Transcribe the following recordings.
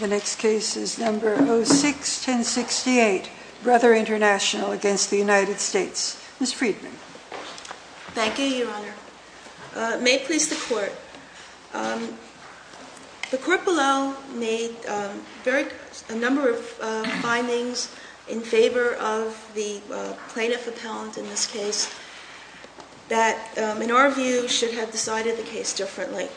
The next case is number 06-1068, Brother International v. United States. Ms. Friedman. Thank you, Your Honor. May it please the Court. The court below made a number of findings in favor of the plaintiff appellant in this case that, in our view, should have decided the case differently.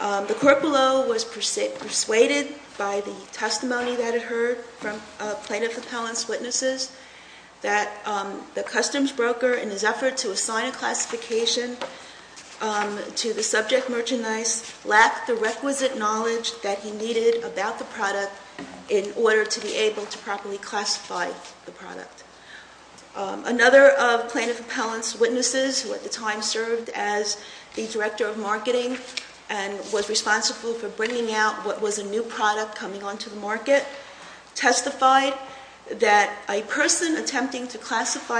The court below was persuaded by the testimony that it heard from plaintiff appellant's witnesses that the customs broker, in his effort to assign a classification to the subject merchandise, lacked the requisite knowledge that he needed about the product in order to be able to properly classify the product. Another of plaintiff appellant's witnesses, who at the time served as the director of marketing and was responsible for bringing out what was a new product coming onto the to classify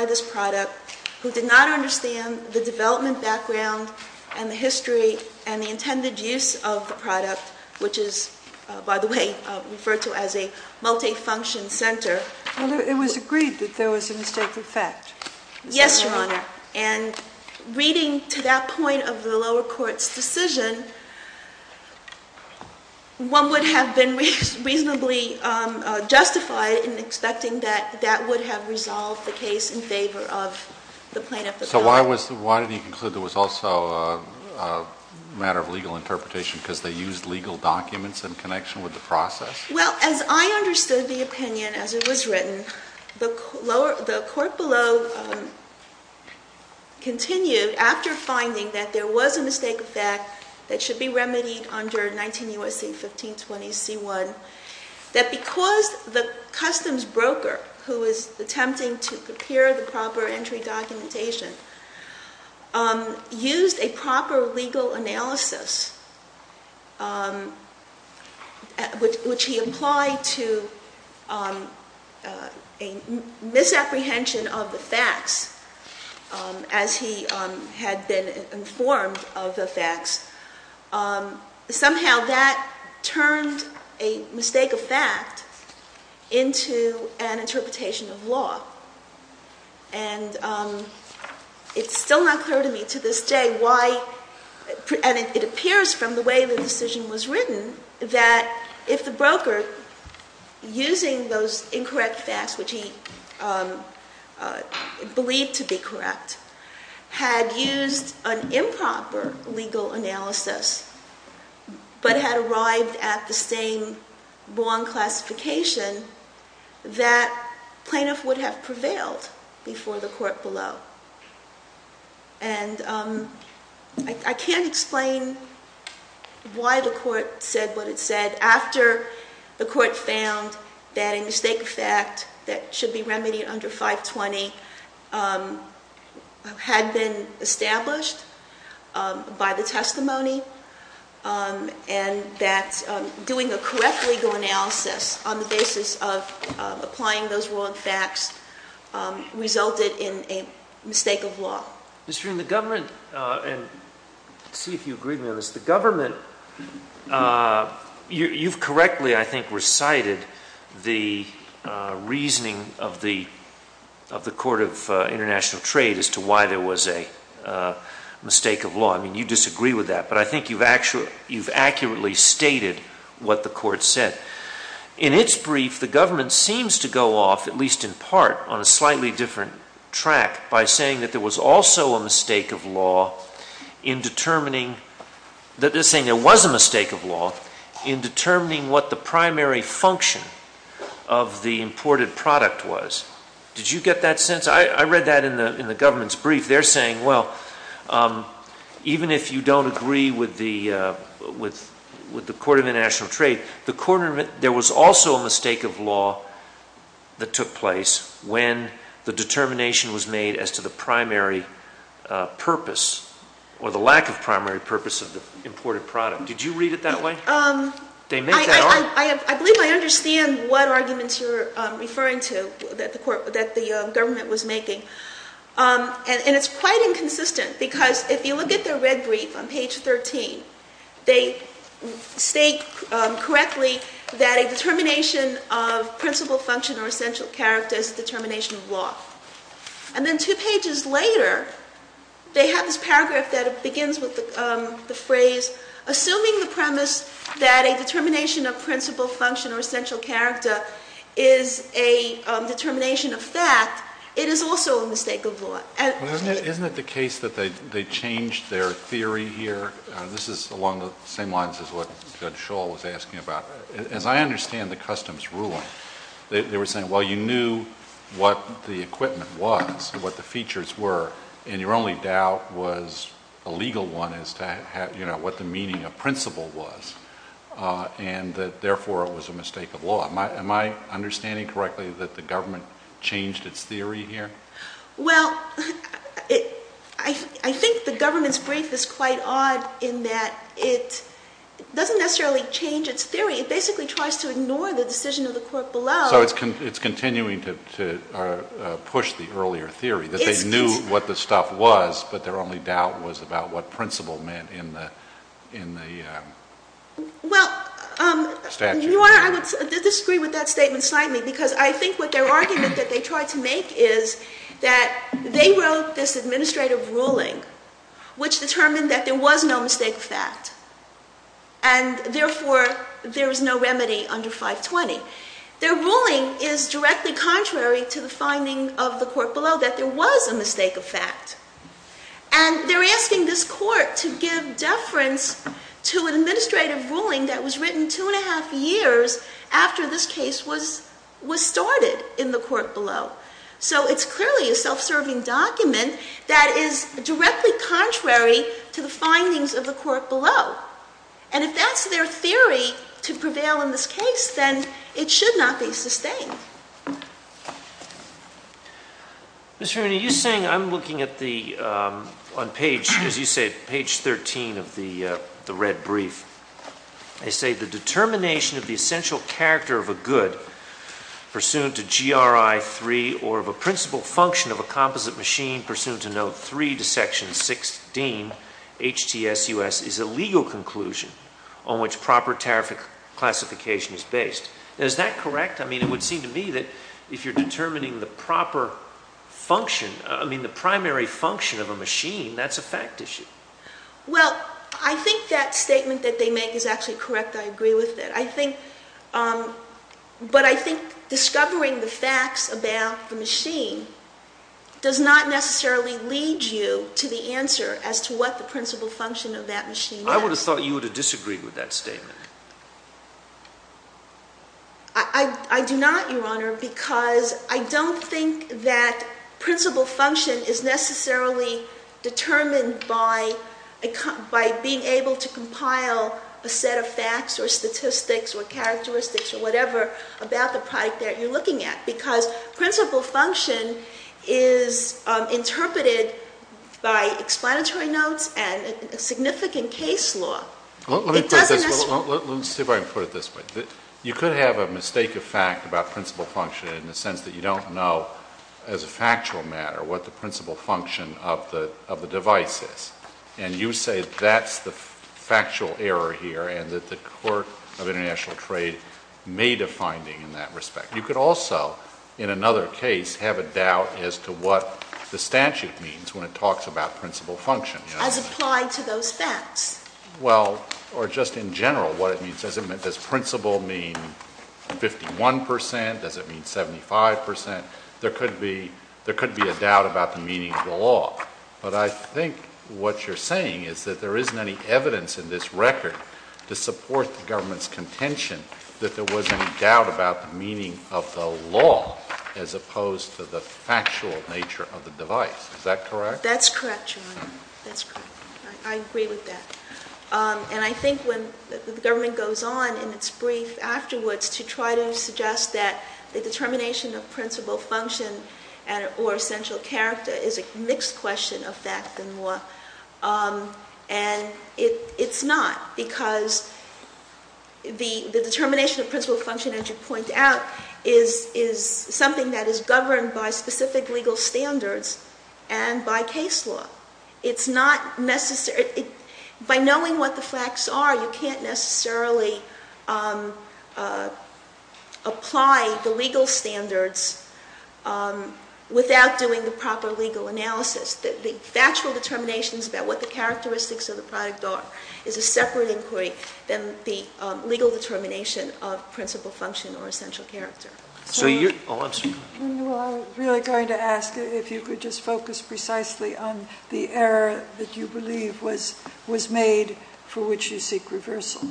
this product, who did not understand the development background and the history and the intended use of the product, which is, by the way, referred to as a multi-function center. Well, it was agreed that there was a mistake of fact. Yes, Your Honor. And reading to that point of the lower court's decision, one would have been reasonably justified in expecting that that would have resolved the case in favor of the plaintiff appellant. So why did he conclude there was also a matter of legal interpretation because they used legal documents in connection with the process? Well, as I understood the opinion as it was written, the court below continued, after finding that there was a mistake of fact that should be remedied under 19 U.S.C. 1520C1, that because the customs broker who was attempting to prepare the proper entry documentation used a proper legal analysis, which he implied to a misapprehension of the facts as he had been informed of the facts, somehow that turned a mistake of fact into an interpretation of law. And it's still not clear to me to this day why, and it appears from the way the decision was written, that if the broker, using those incorrect facts, which he believed to be correct, had used an improper legal analysis, but had arrived at the same wrong classification, that plaintiff would have prevailed before the court below. And I can't explain why the court said what it said after the court found that a mistake of fact that should be remedied under 520 had been established by the testimony, and that doing a correct legal analysis on the basis of applying those wrong facts resulted in a mistake of law. Mr. Green, the government, and let's see if you agree with me on this, the government, you've correctly, I think, recited the reasoning of the Court of International Trade as to why there was a mistake of law. I mean, you disagree with that, but I think you've accurately stated what the court said. In its brief, the government seems to go off, at least in part, on a slightly different track by saying that there was also a mistake of law in determining, that they're saying there was a mistake of law in determining what the primary function of the imported product was. Did you get that sense? I read that in the government's brief. They're saying, well, even if you don't agree with the Court of International Trade, there was also a mistake of law that took place when the determination was made as to the primary purpose, or the lack of primary purpose of the imported product. Did you read it that way? They make that argument. I believe I understand what arguments you're referring to that the government was making, and it's quite inconsistent because if you look at the red brief on page 13, they state correctly that a determination of principal function or essential character is a determination of law. And then two pages later, they have this paragraph that begins with the phrase, assuming the premise that a determination of principal function or essential character is a determination of fact, it is also a mistake of law. Isn't it the case that they changed their theory here? This is along the same lines as what Judge Scholl was asking about. As I understand the customs ruling, they were saying, well, you knew what the equipment was, what the features were, and your only doubt was a legal one as to what the meaning of principal was, and that therefore it was a mistake of law. Am I understanding correctly that the government changed its theory here? Well, I think the government's brief is quite odd in that it doesn't necessarily change its theory. It basically tries to ignore the decision of the court below. So it's continuing to push the earlier theory, that they knew what the stuff was, but their only doubt was about what principal meant in the statute. Well, Your Honor, I would disagree with that statement slightly because I think what their argument that they tried to make is that they wrote this administrative ruling, which determined that there was no mistake of fact, and therefore there is no remedy under 520. Their ruling is directly contrary to the finding of the court below that there was a mistake of fact. And they're asking this court to give deference to an administrative ruling that was written two and a half years after this case was started in the court below. So it's clearly a self-serving document that is directly contrary to the findings of the court below. And if that's their theory to prevail in this case, then it should not be sustained. Mr. Remini, you're saying I'm looking at the, on page, as you say, page 13 of the red brief. They say the determination of the essential character of a good pursuant to GRI 3 or of a principal function of a composite machine pursuant to note 3 to section 16, HTSUS, is a legal conclusion on which proper tariff classification is based. Is that correct? I mean, it would seem to me that if you're determining the proper function, I mean, the primary function of a machine, that's a fact issue. Well, I think that statement that they make is actually correct. I agree with it. I think, but I think discovering the facts about the machine does not necessarily lead you to the answer as to what the principal function of that machine is. I would have thought you would have disagreed with that statement. I do not, Your Honor, because I don't think that principal function is necessarily determined by being able to compile a set of facts or statistics or characteristics or whatever about the product that you're looking at. Because principal function is interpreted by explanatory notes and a significant case law. Let me put it this way. You could have a mistake of fact about principal function in the sense that you don't know as a factual matter what the principal function of the device is. And you say that's the factual error here and that the Court of International Trade made a finding in that respect. You could also, in another case, have a doubt as to what the statute means when it talks about principal function. As applied to those facts. Well, or just in general what it means. Does principal mean 51 percent? Does it mean 75 percent? There could be a doubt about the meaning of the law. But I think what you're saying is that there isn't any evidence in this record to support the government's contention that there was any doubt about the meaning of the law as opposed to the factual nature of the device. Is that correct? That's correct, John. That's correct. I agree with that. And I think when the government goes on in its brief afterwards to try to suggest that the determination of principal function or essential character is a mixed question of fact and law. And it's not. Because the determination of principal function, as you point out, is something that is governed by specific legal standards and by case law. It's not necessary. By knowing what the facts are, you can't necessarily apply the legal standards without doing the proper legal analysis. The factual determinations about what the characteristics of the product are is a separate inquiry than the legal determination of principal function or essential character. So you're – oh, I'm sorry. No, I was really going to ask if you could just focus precisely on the error that you believe was made for which you seek reversal.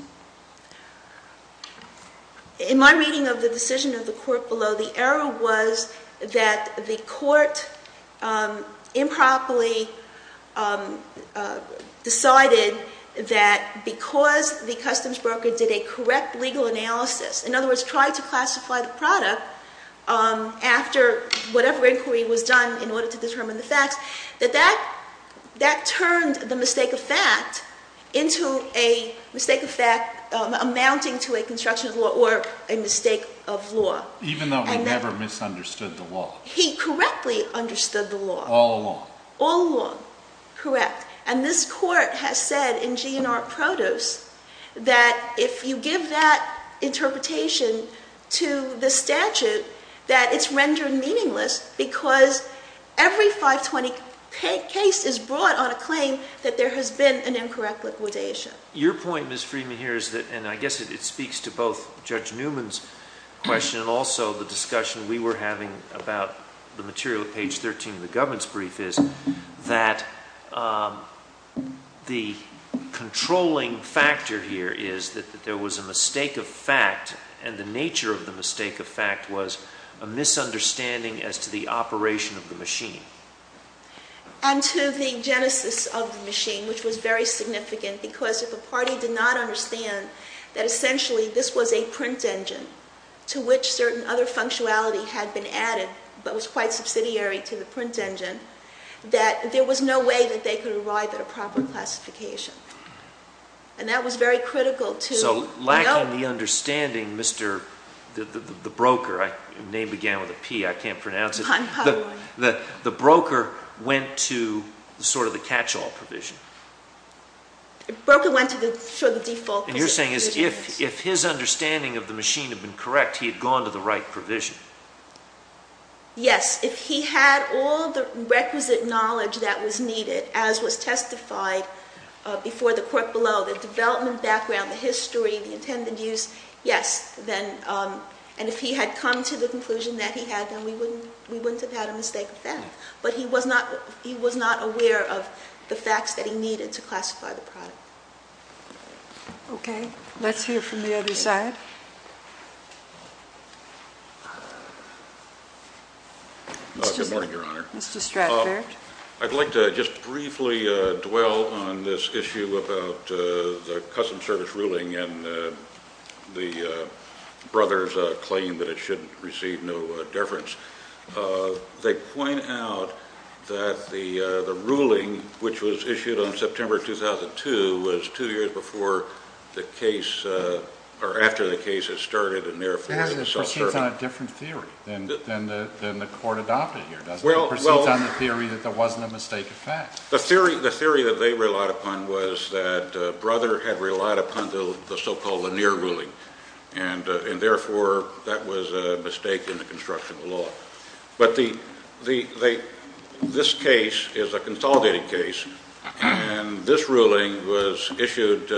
In my reading of the decision of the court below, the error was that the court improperly decided that because the customs broker did a correct legal analysis – in other words, tried to classify the product after whatever inquiry was done in order to determine the amounting to a construction of law or a mistake of law. Even though we never misunderstood the law. He correctly understood the law. All along. All along. Correct. And this court has said in G&R Produce that if you give that interpretation to the statute, that it's rendered meaningless because every 520 case is brought on a claim that there has been an incorrect liquidation. Your point, Ms. Freeman, here is that – and I guess it speaks to both Judge Newman's question and also the discussion we were having about the material at page 13 of the government's brief is that the controlling factor here is that there was a mistake of fact and the nature of the mistake of fact was a misunderstanding as to the operation of the machine. And to the genesis of the machine, which was very significant, because if a party did not understand that essentially this was a print engine to which certain other functionality had been added but was quite subsidiary to the print engine, that there was no way that they could arrive at a proper classification. And that was very critical to – So, lacking the understanding, Mr. – the broker – name began with a P. I can't pronounce it. I'm puzzled. The broker went to sort of the catch-all provision. The broker went to the default. And you're saying if his understanding of the machine had been correct, he had gone to the right provision. Yes. If he had all the requisite knowledge that was needed, as was testified before the court below, the development background, the history, the intended use, yes, then – and if he had come to the conclusion that he had, then we wouldn't have had a mistake with that. But he was not – he was not aware of the facts that he needed to classify the product. Okay. Let's hear from the other side. Good morning, Your Honor. Mr. Stratford. I'd like to just briefly dwell on this issue about the Custom Service ruling and the brother's claim that it shouldn't receive no deference. They point out that the ruling, which was issued on September 2002, was two years before the case – or after the case had started and therefore – It proceeds on a different theory than the court adopted here, doesn't it? Proceeds on the theory that there wasn't a mistake of fact. The theory that they relied upon was that brother had relied upon the so-called Lanier ruling, and therefore that was a mistake in the construction of the law. But the – this case is a consolidated case, and this ruling was issued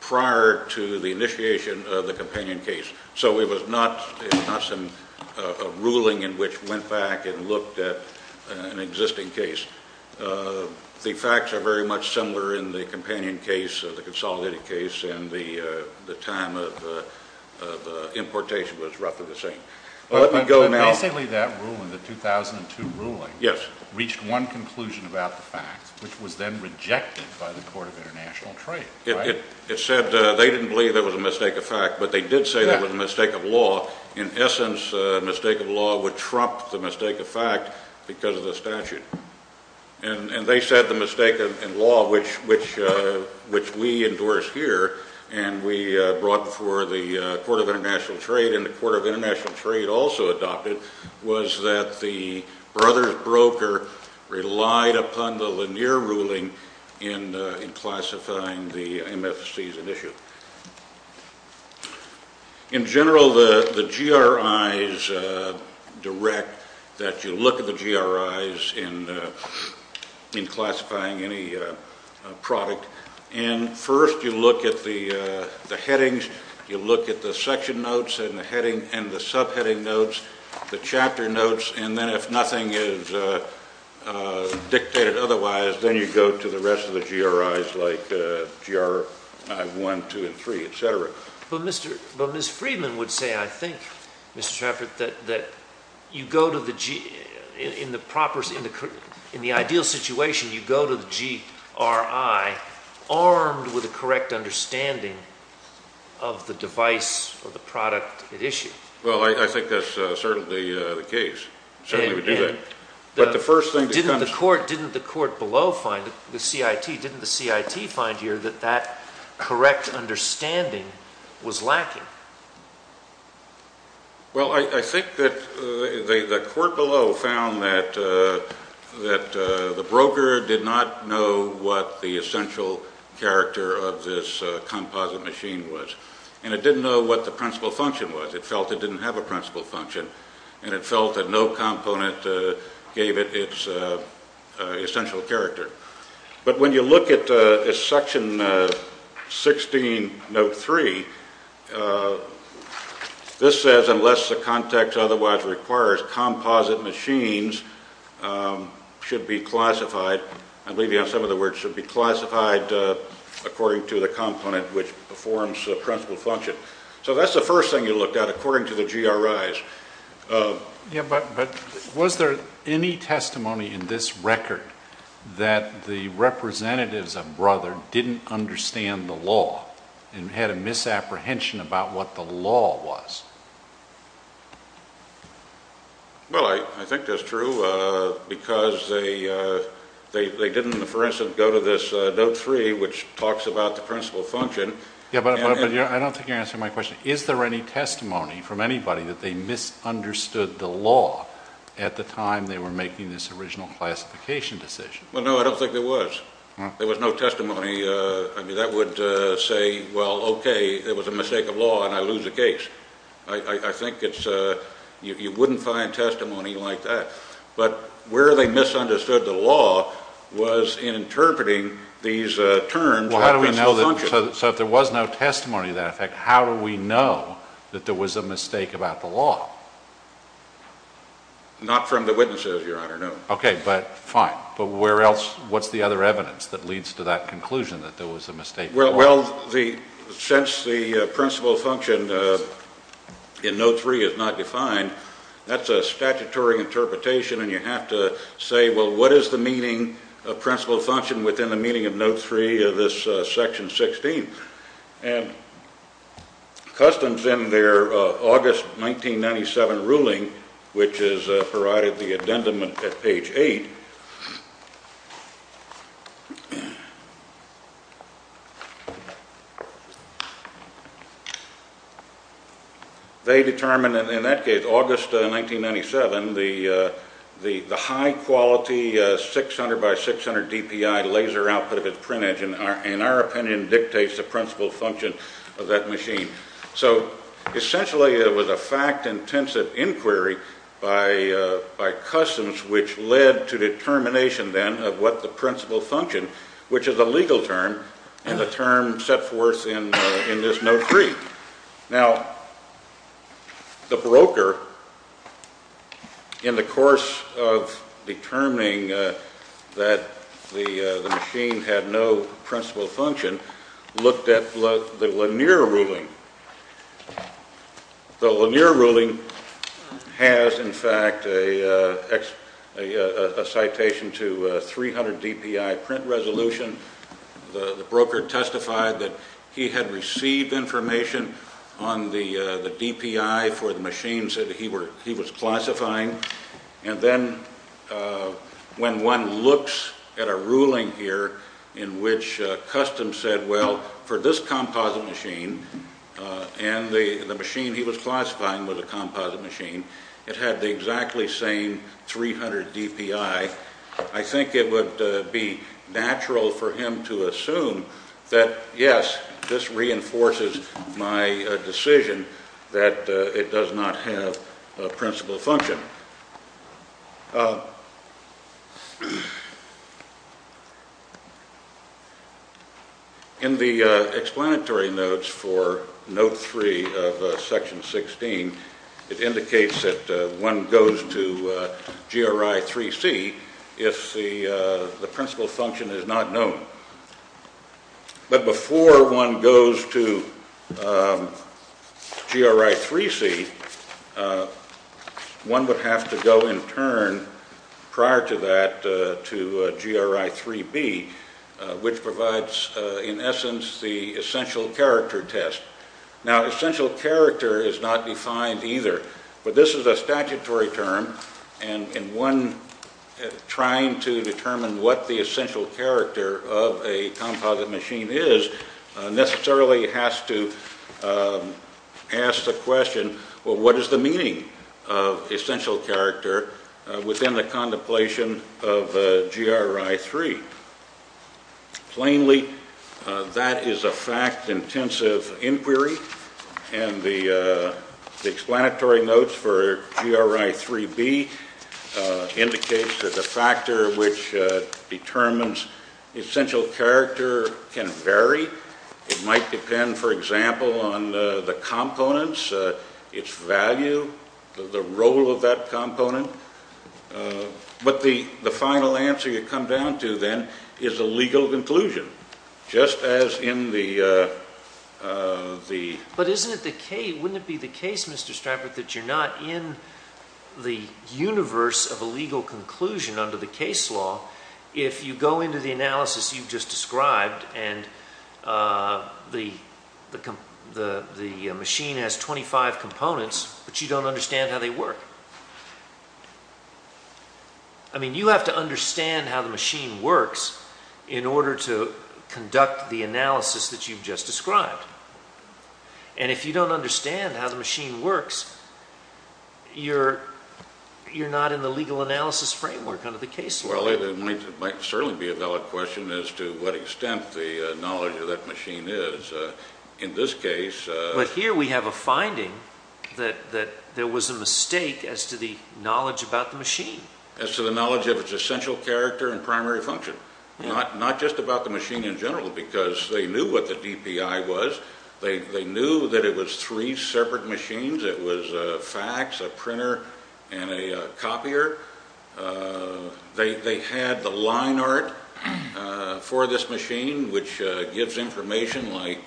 prior to the initiation of the companion case. So it was not a ruling in which went back and looked at an existing case. The facts are very much similar in the companion case, the consolidated case, and the time of importation was roughly the same. Let me go now – But basically that ruling, the 2002 ruling – Yes. – reached one conclusion about the fact, which was then rejected by the Court of International Trade, right? It said they didn't believe there was a mistake of fact, but they did say there was a mistake of law. In essence, a mistake of law would trump the mistake of fact because of the statute. And they said the mistake of law, which we endorse here, and we brought before the Court of International Trade, and the Court of International Trade also adopted, was that the brother's broker relied upon the Lanier ruling in classifying the MFCs in issue. In general, the GRIs direct that you look at the GRIs in classifying any product, and first you look at the headings, you look at the section notes and the heading and the subheading notes, the chapter notes, and then if nothing is dictated otherwise, then you go to the rest of the GRIs like GRI 1, 2, and 3, et cetera. But Mr. – but Ms. Friedman would say, I think, Mr. Trafford, that you go to the – in the proper – in the ideal situation, you go to the GRI armed with a correct understanding of the device or the product at issue. Well, I think that's certainly the case. Certainly we do that. But the first thing that comes – Or didn't the court below find – the CIT, didn't the CIT find here that that correct understanding was lacking? Well, I think that the court below found that the broker did not know what the essential character of this composite machine was, and it didn't know what the principal function was. It felt it didn't have a principal function. And it felt that no component gave it its essential character. But when you look at Section 16, Note 3, this says, unless the context otherwise requires, composite machines should be classified – I believe you have some of the words – should be classified according to the component which performs the principal function. So that's the first thing you looked at, according to the GRIs. Yeah, but was there any testimony in this record that the representatives of Brother didn't understand the law and had a misapprehension about what the law was? Well, I think that's true, because they didn't, for instance, go to this Note 3 which talks about the principal function. Yeah, but I don't think you're answering my question. Is there any testimony from anybody that they misunderstood the law at the time they were making this original classification decision? Well, no, I don't think there was. There was no testimony. I mean, that would say, well, okay, it was a mistake of law, and I lose the case. I think it's – you wouldn't find testimony like that. But where they misunderstood the law was in interpreting these terms. How do we know that – so if there was no testimony to that effect, how do we know that there was a mistake about the law? Not from the witnesses, Your Honor, no. Okay, but fine. But where else – what's the other evidence that leads to that conclusion that there was a mistake? Well, since the principal function in Note 3 is not defined, that's a statutory interpretation, and you have to say, well, what is the meaning of principal function within the meaning of Section 16? And Customs, in their August 1997 ruling, which is provided at the addendum at page 8, they determined in that case, August 1997, the high-quality 600 by 600 DPI laser output at printage, in our opinion, dictates the principal function of that machine. So essentially, it was a fact-intensive inquiry by Customs which led to determination, then, of what the principal function, which is a legal term, and the term set forth in this Note 3. Now, the broker, in the course of determining that the machine had no principal function, looked at the Lanier ruling. The Lanier ruling has, in fact, a citation to 300 DPI print resolution. The broker testified that he had received information on the DPI for the machines that he was classifying, and then when one looks at a ruling here in which Customs said, well, for this composite machine, and the machine he was classifying was a composite machine, it had the exactly same 300 DPI. I think it would be natural for him to assume that, yes, this reinforces my decision that it does not have a principal function. Now, in the explanatory notes for Note 3 of Section 16, it indicates that one goes to GRI 3C if the principal function is not known. But before one goes to GRI 3C, one would have to go, in turn, prior to that, to GRI 3B, which provides, in essence, the essential character test. Now, essential character is not defined either, but this is a statutory term, and one trying to determine what the essential character of a composite machine is necessarily has to ask the question, well, what is the meaning of essential character within the contemplation of GRI 3? Plainly, that is a fact-intensive inquiry, and the explanatory notes for GRI 3B indicates that the factor which determines essential character can vary. It might depend, for example, on the components, its value, the role of that component. But the final answer you come down to, then, is a legal conclusion, just as in the— But wouldn't it be the case, Mr. Stratford, that you're not in the universe of a legal conclusion under the case law, if you go into the analysis you've just described, and the machine has 25 components, but you don't understand how they work? I mean, you have to understand how the machine works in order to conduct the analysis that you've just described. And if you don't understand how the machine works, you're not in the legal analysis framework under the case law. Well, it might certainly be a valid question as to what extent the knowledge of that machine is. In this case— But here we have a finding that there was a mistake as to the knowledge about the machine. As to the knowledge of its essential character and primary function, not just about the machine in general, because they knew what the DPI was. They knew that it was three separate machines. It was a fax, a printer, and a copier. They had the line art for this machine, which gives information, like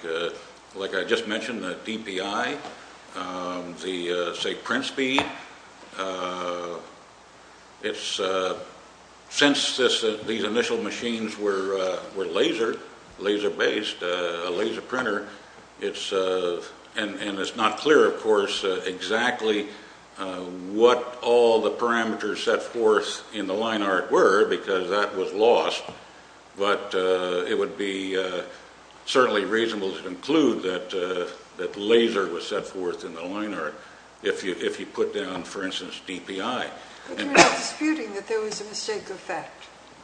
I just mentioned, the DPI, the, say, print speed. Now, since these initial machines were laser-based, a laser printer, and it's not clear, of course, exactly what all the parameters set forth in the line art were, because that was lost. But it would be certainly reasonable to conclude that laser was set forth in the line art if you put down, for instance, DPI. But you're not disputing that there was a mistake of fact?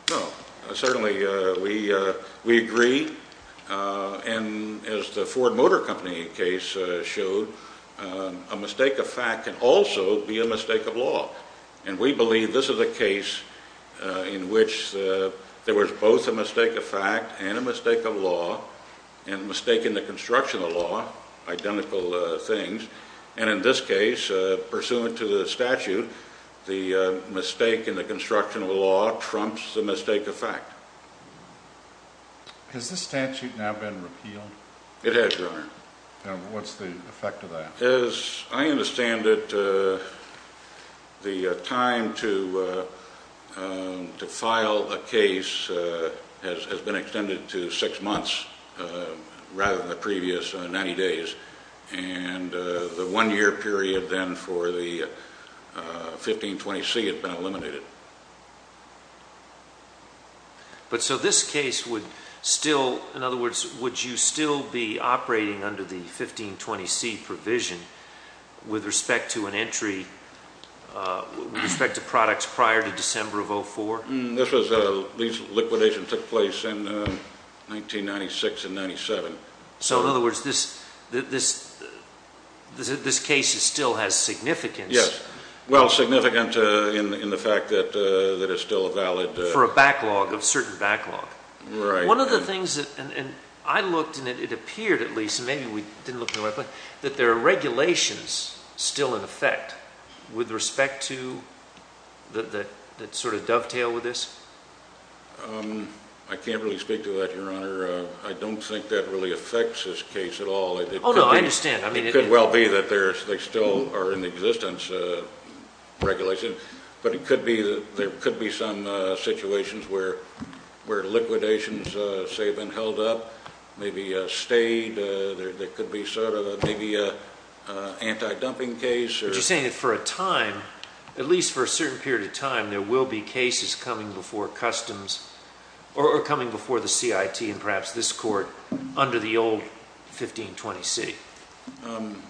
No. Certainly, we agree. And as the Ford Motor Company case showed, a mistake of fact can also be a mistake of law. And we believe this is a case in which there was both a mistake of fact and a mistake of law, and a mistake in the construction of law, identical things. And in this case, pursuant to the statute, the mistake in the construction of the law trumps the mistake of fact. Has this statute now been repealed? It has, Your Honor. What's the effect of that? As I understand it, the time to file a case has been extended to six months, rather than the previous 90 days. And the one-year period then for the 1520C has been eliminated. But so this case would still, in other words, would you still be operating under the 1520C provision with respect to an entry, with respect to products prior to December of 04? This was, these liquidations took place in 1996 and 97. So in other words, this case still has significance. Yes. Well, significant in the fact that it's still a valid- For a backlog, a certain backlog. Right. One of the things that, and I looked and it appeared at least, maybe we didn't look in the right place, that there are regulations still in effect with respect to, that sort of dovetail with this? I can't really speak to that, Your Honor. I don't think that really affects this case at all. Oh, no, I understand. I mean- It could well be that they still are in existence, regulations, but it could be, there could be some situations where liquidations, say, have been held up, maybe stayed, there could be sort of maybe an anti-dumping case or- You're saying that for a time, at least for a certain period of time, there will be cases coming before Customs or coming before the CIT and perhaps this court under the old 1520 C?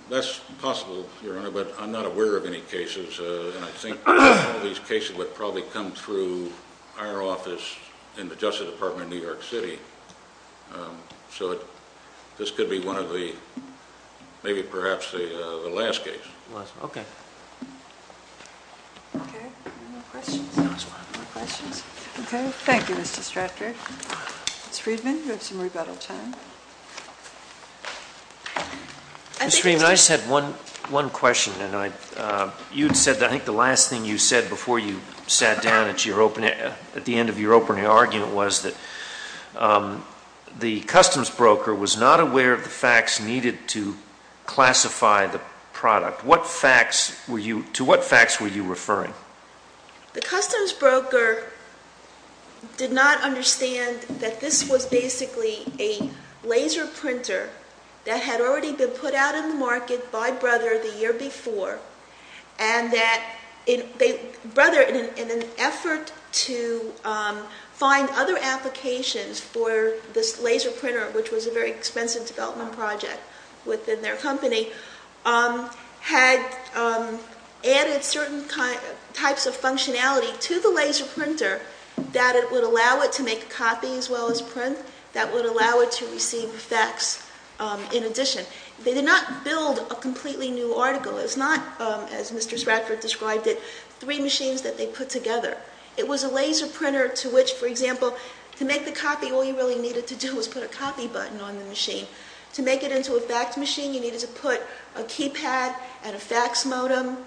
That's possible, Your Honor, but I'm not aware of any cases. And I think all these cases would probably come through our office in the Justice Department of New York City. So this could be one of the, maybe perhaps the last case. Okay. Okay. Okay. Thank you, Mr. Stratford. Ms. Friedman, you have some rebuttal time. Ms. Friedman, I just had one question, and I, you'd said, I think the last thing you said before you sat down at your opening, at the end of your opening argument was that the customs broker was not aware of the facts needed to classify the product. What facts were you, to what facts were you referring? The customs broker did not understand that this was basically a laser printer that had already been put out in the market by Brother the year before, and that Brother, in an effort to find other applications for this laser printer, which was a very expensive development project within their company, had added certain types of functionality to the laser printer that it would allow it to make a copy as well as print, that would allow it to receive effects in addition. They did not build a completely new article. It's not, as Mr. Stratford described it, three machines that they put together. It was a laser printer to which, for example, to make the copy, all you really needed to do was put a copy button on the machine. To make it into a fax machine, you needed to put a keypad and a fax modem,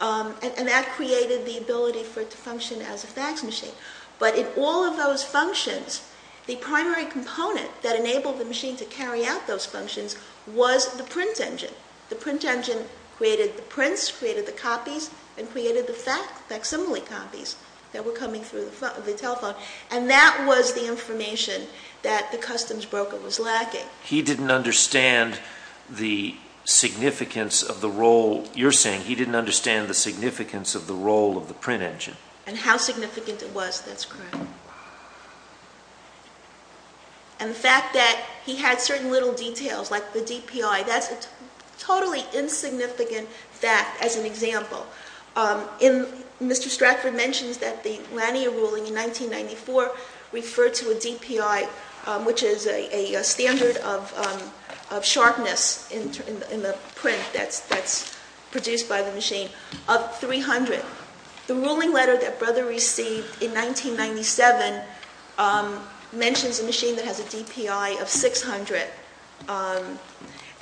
and that created the ability for it to function as a fax machine. But in all of those functions, the primary component that enabled the machine to carry out those functions was the print engine. The print engine created the prints, created the copies, and created the facsimile copies that were coming through the telephone. And that was the information that the customs broker was lacking. He didn't understand the significance of the role, you're saying he didn't understand the significance of the role of the print engine. And how significant it was, that's correct. And the fact that he had certain little details, like the DPI, that's a totally insignificant fact as an example. And Mr. Stratford mentions that the Lanier ruling in 1994 referred to a DPI, which is a standard of sharpness in the print that's produced by the machine, of 300. The ruling letter that Brother received in 1997 mentions a machine that has a DPI of 600.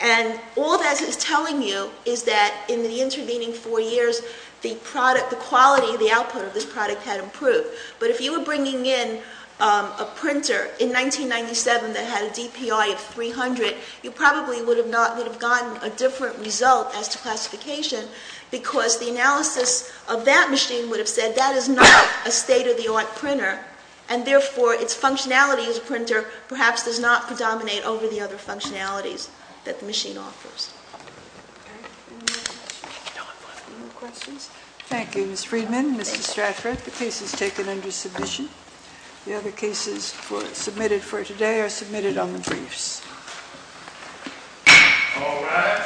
And all that is telling you is that in the intervening four years, the product, the quality of the output of this product had improved. But if you were bringing in a printer in 1997 that had a DPI of 300, you probably would have not, would have gotten a different result as to classification, because the analysis of that machine would have said that is not a state-of-the-art printer. And therefore, its functionality as a printer perhaps does not predominate over the other functionalities that the machine offers. Thank you, Ms. Friedman. Mr. Stratford, the case is taken under submission. The other cases submitted for today are submitted on the briefs.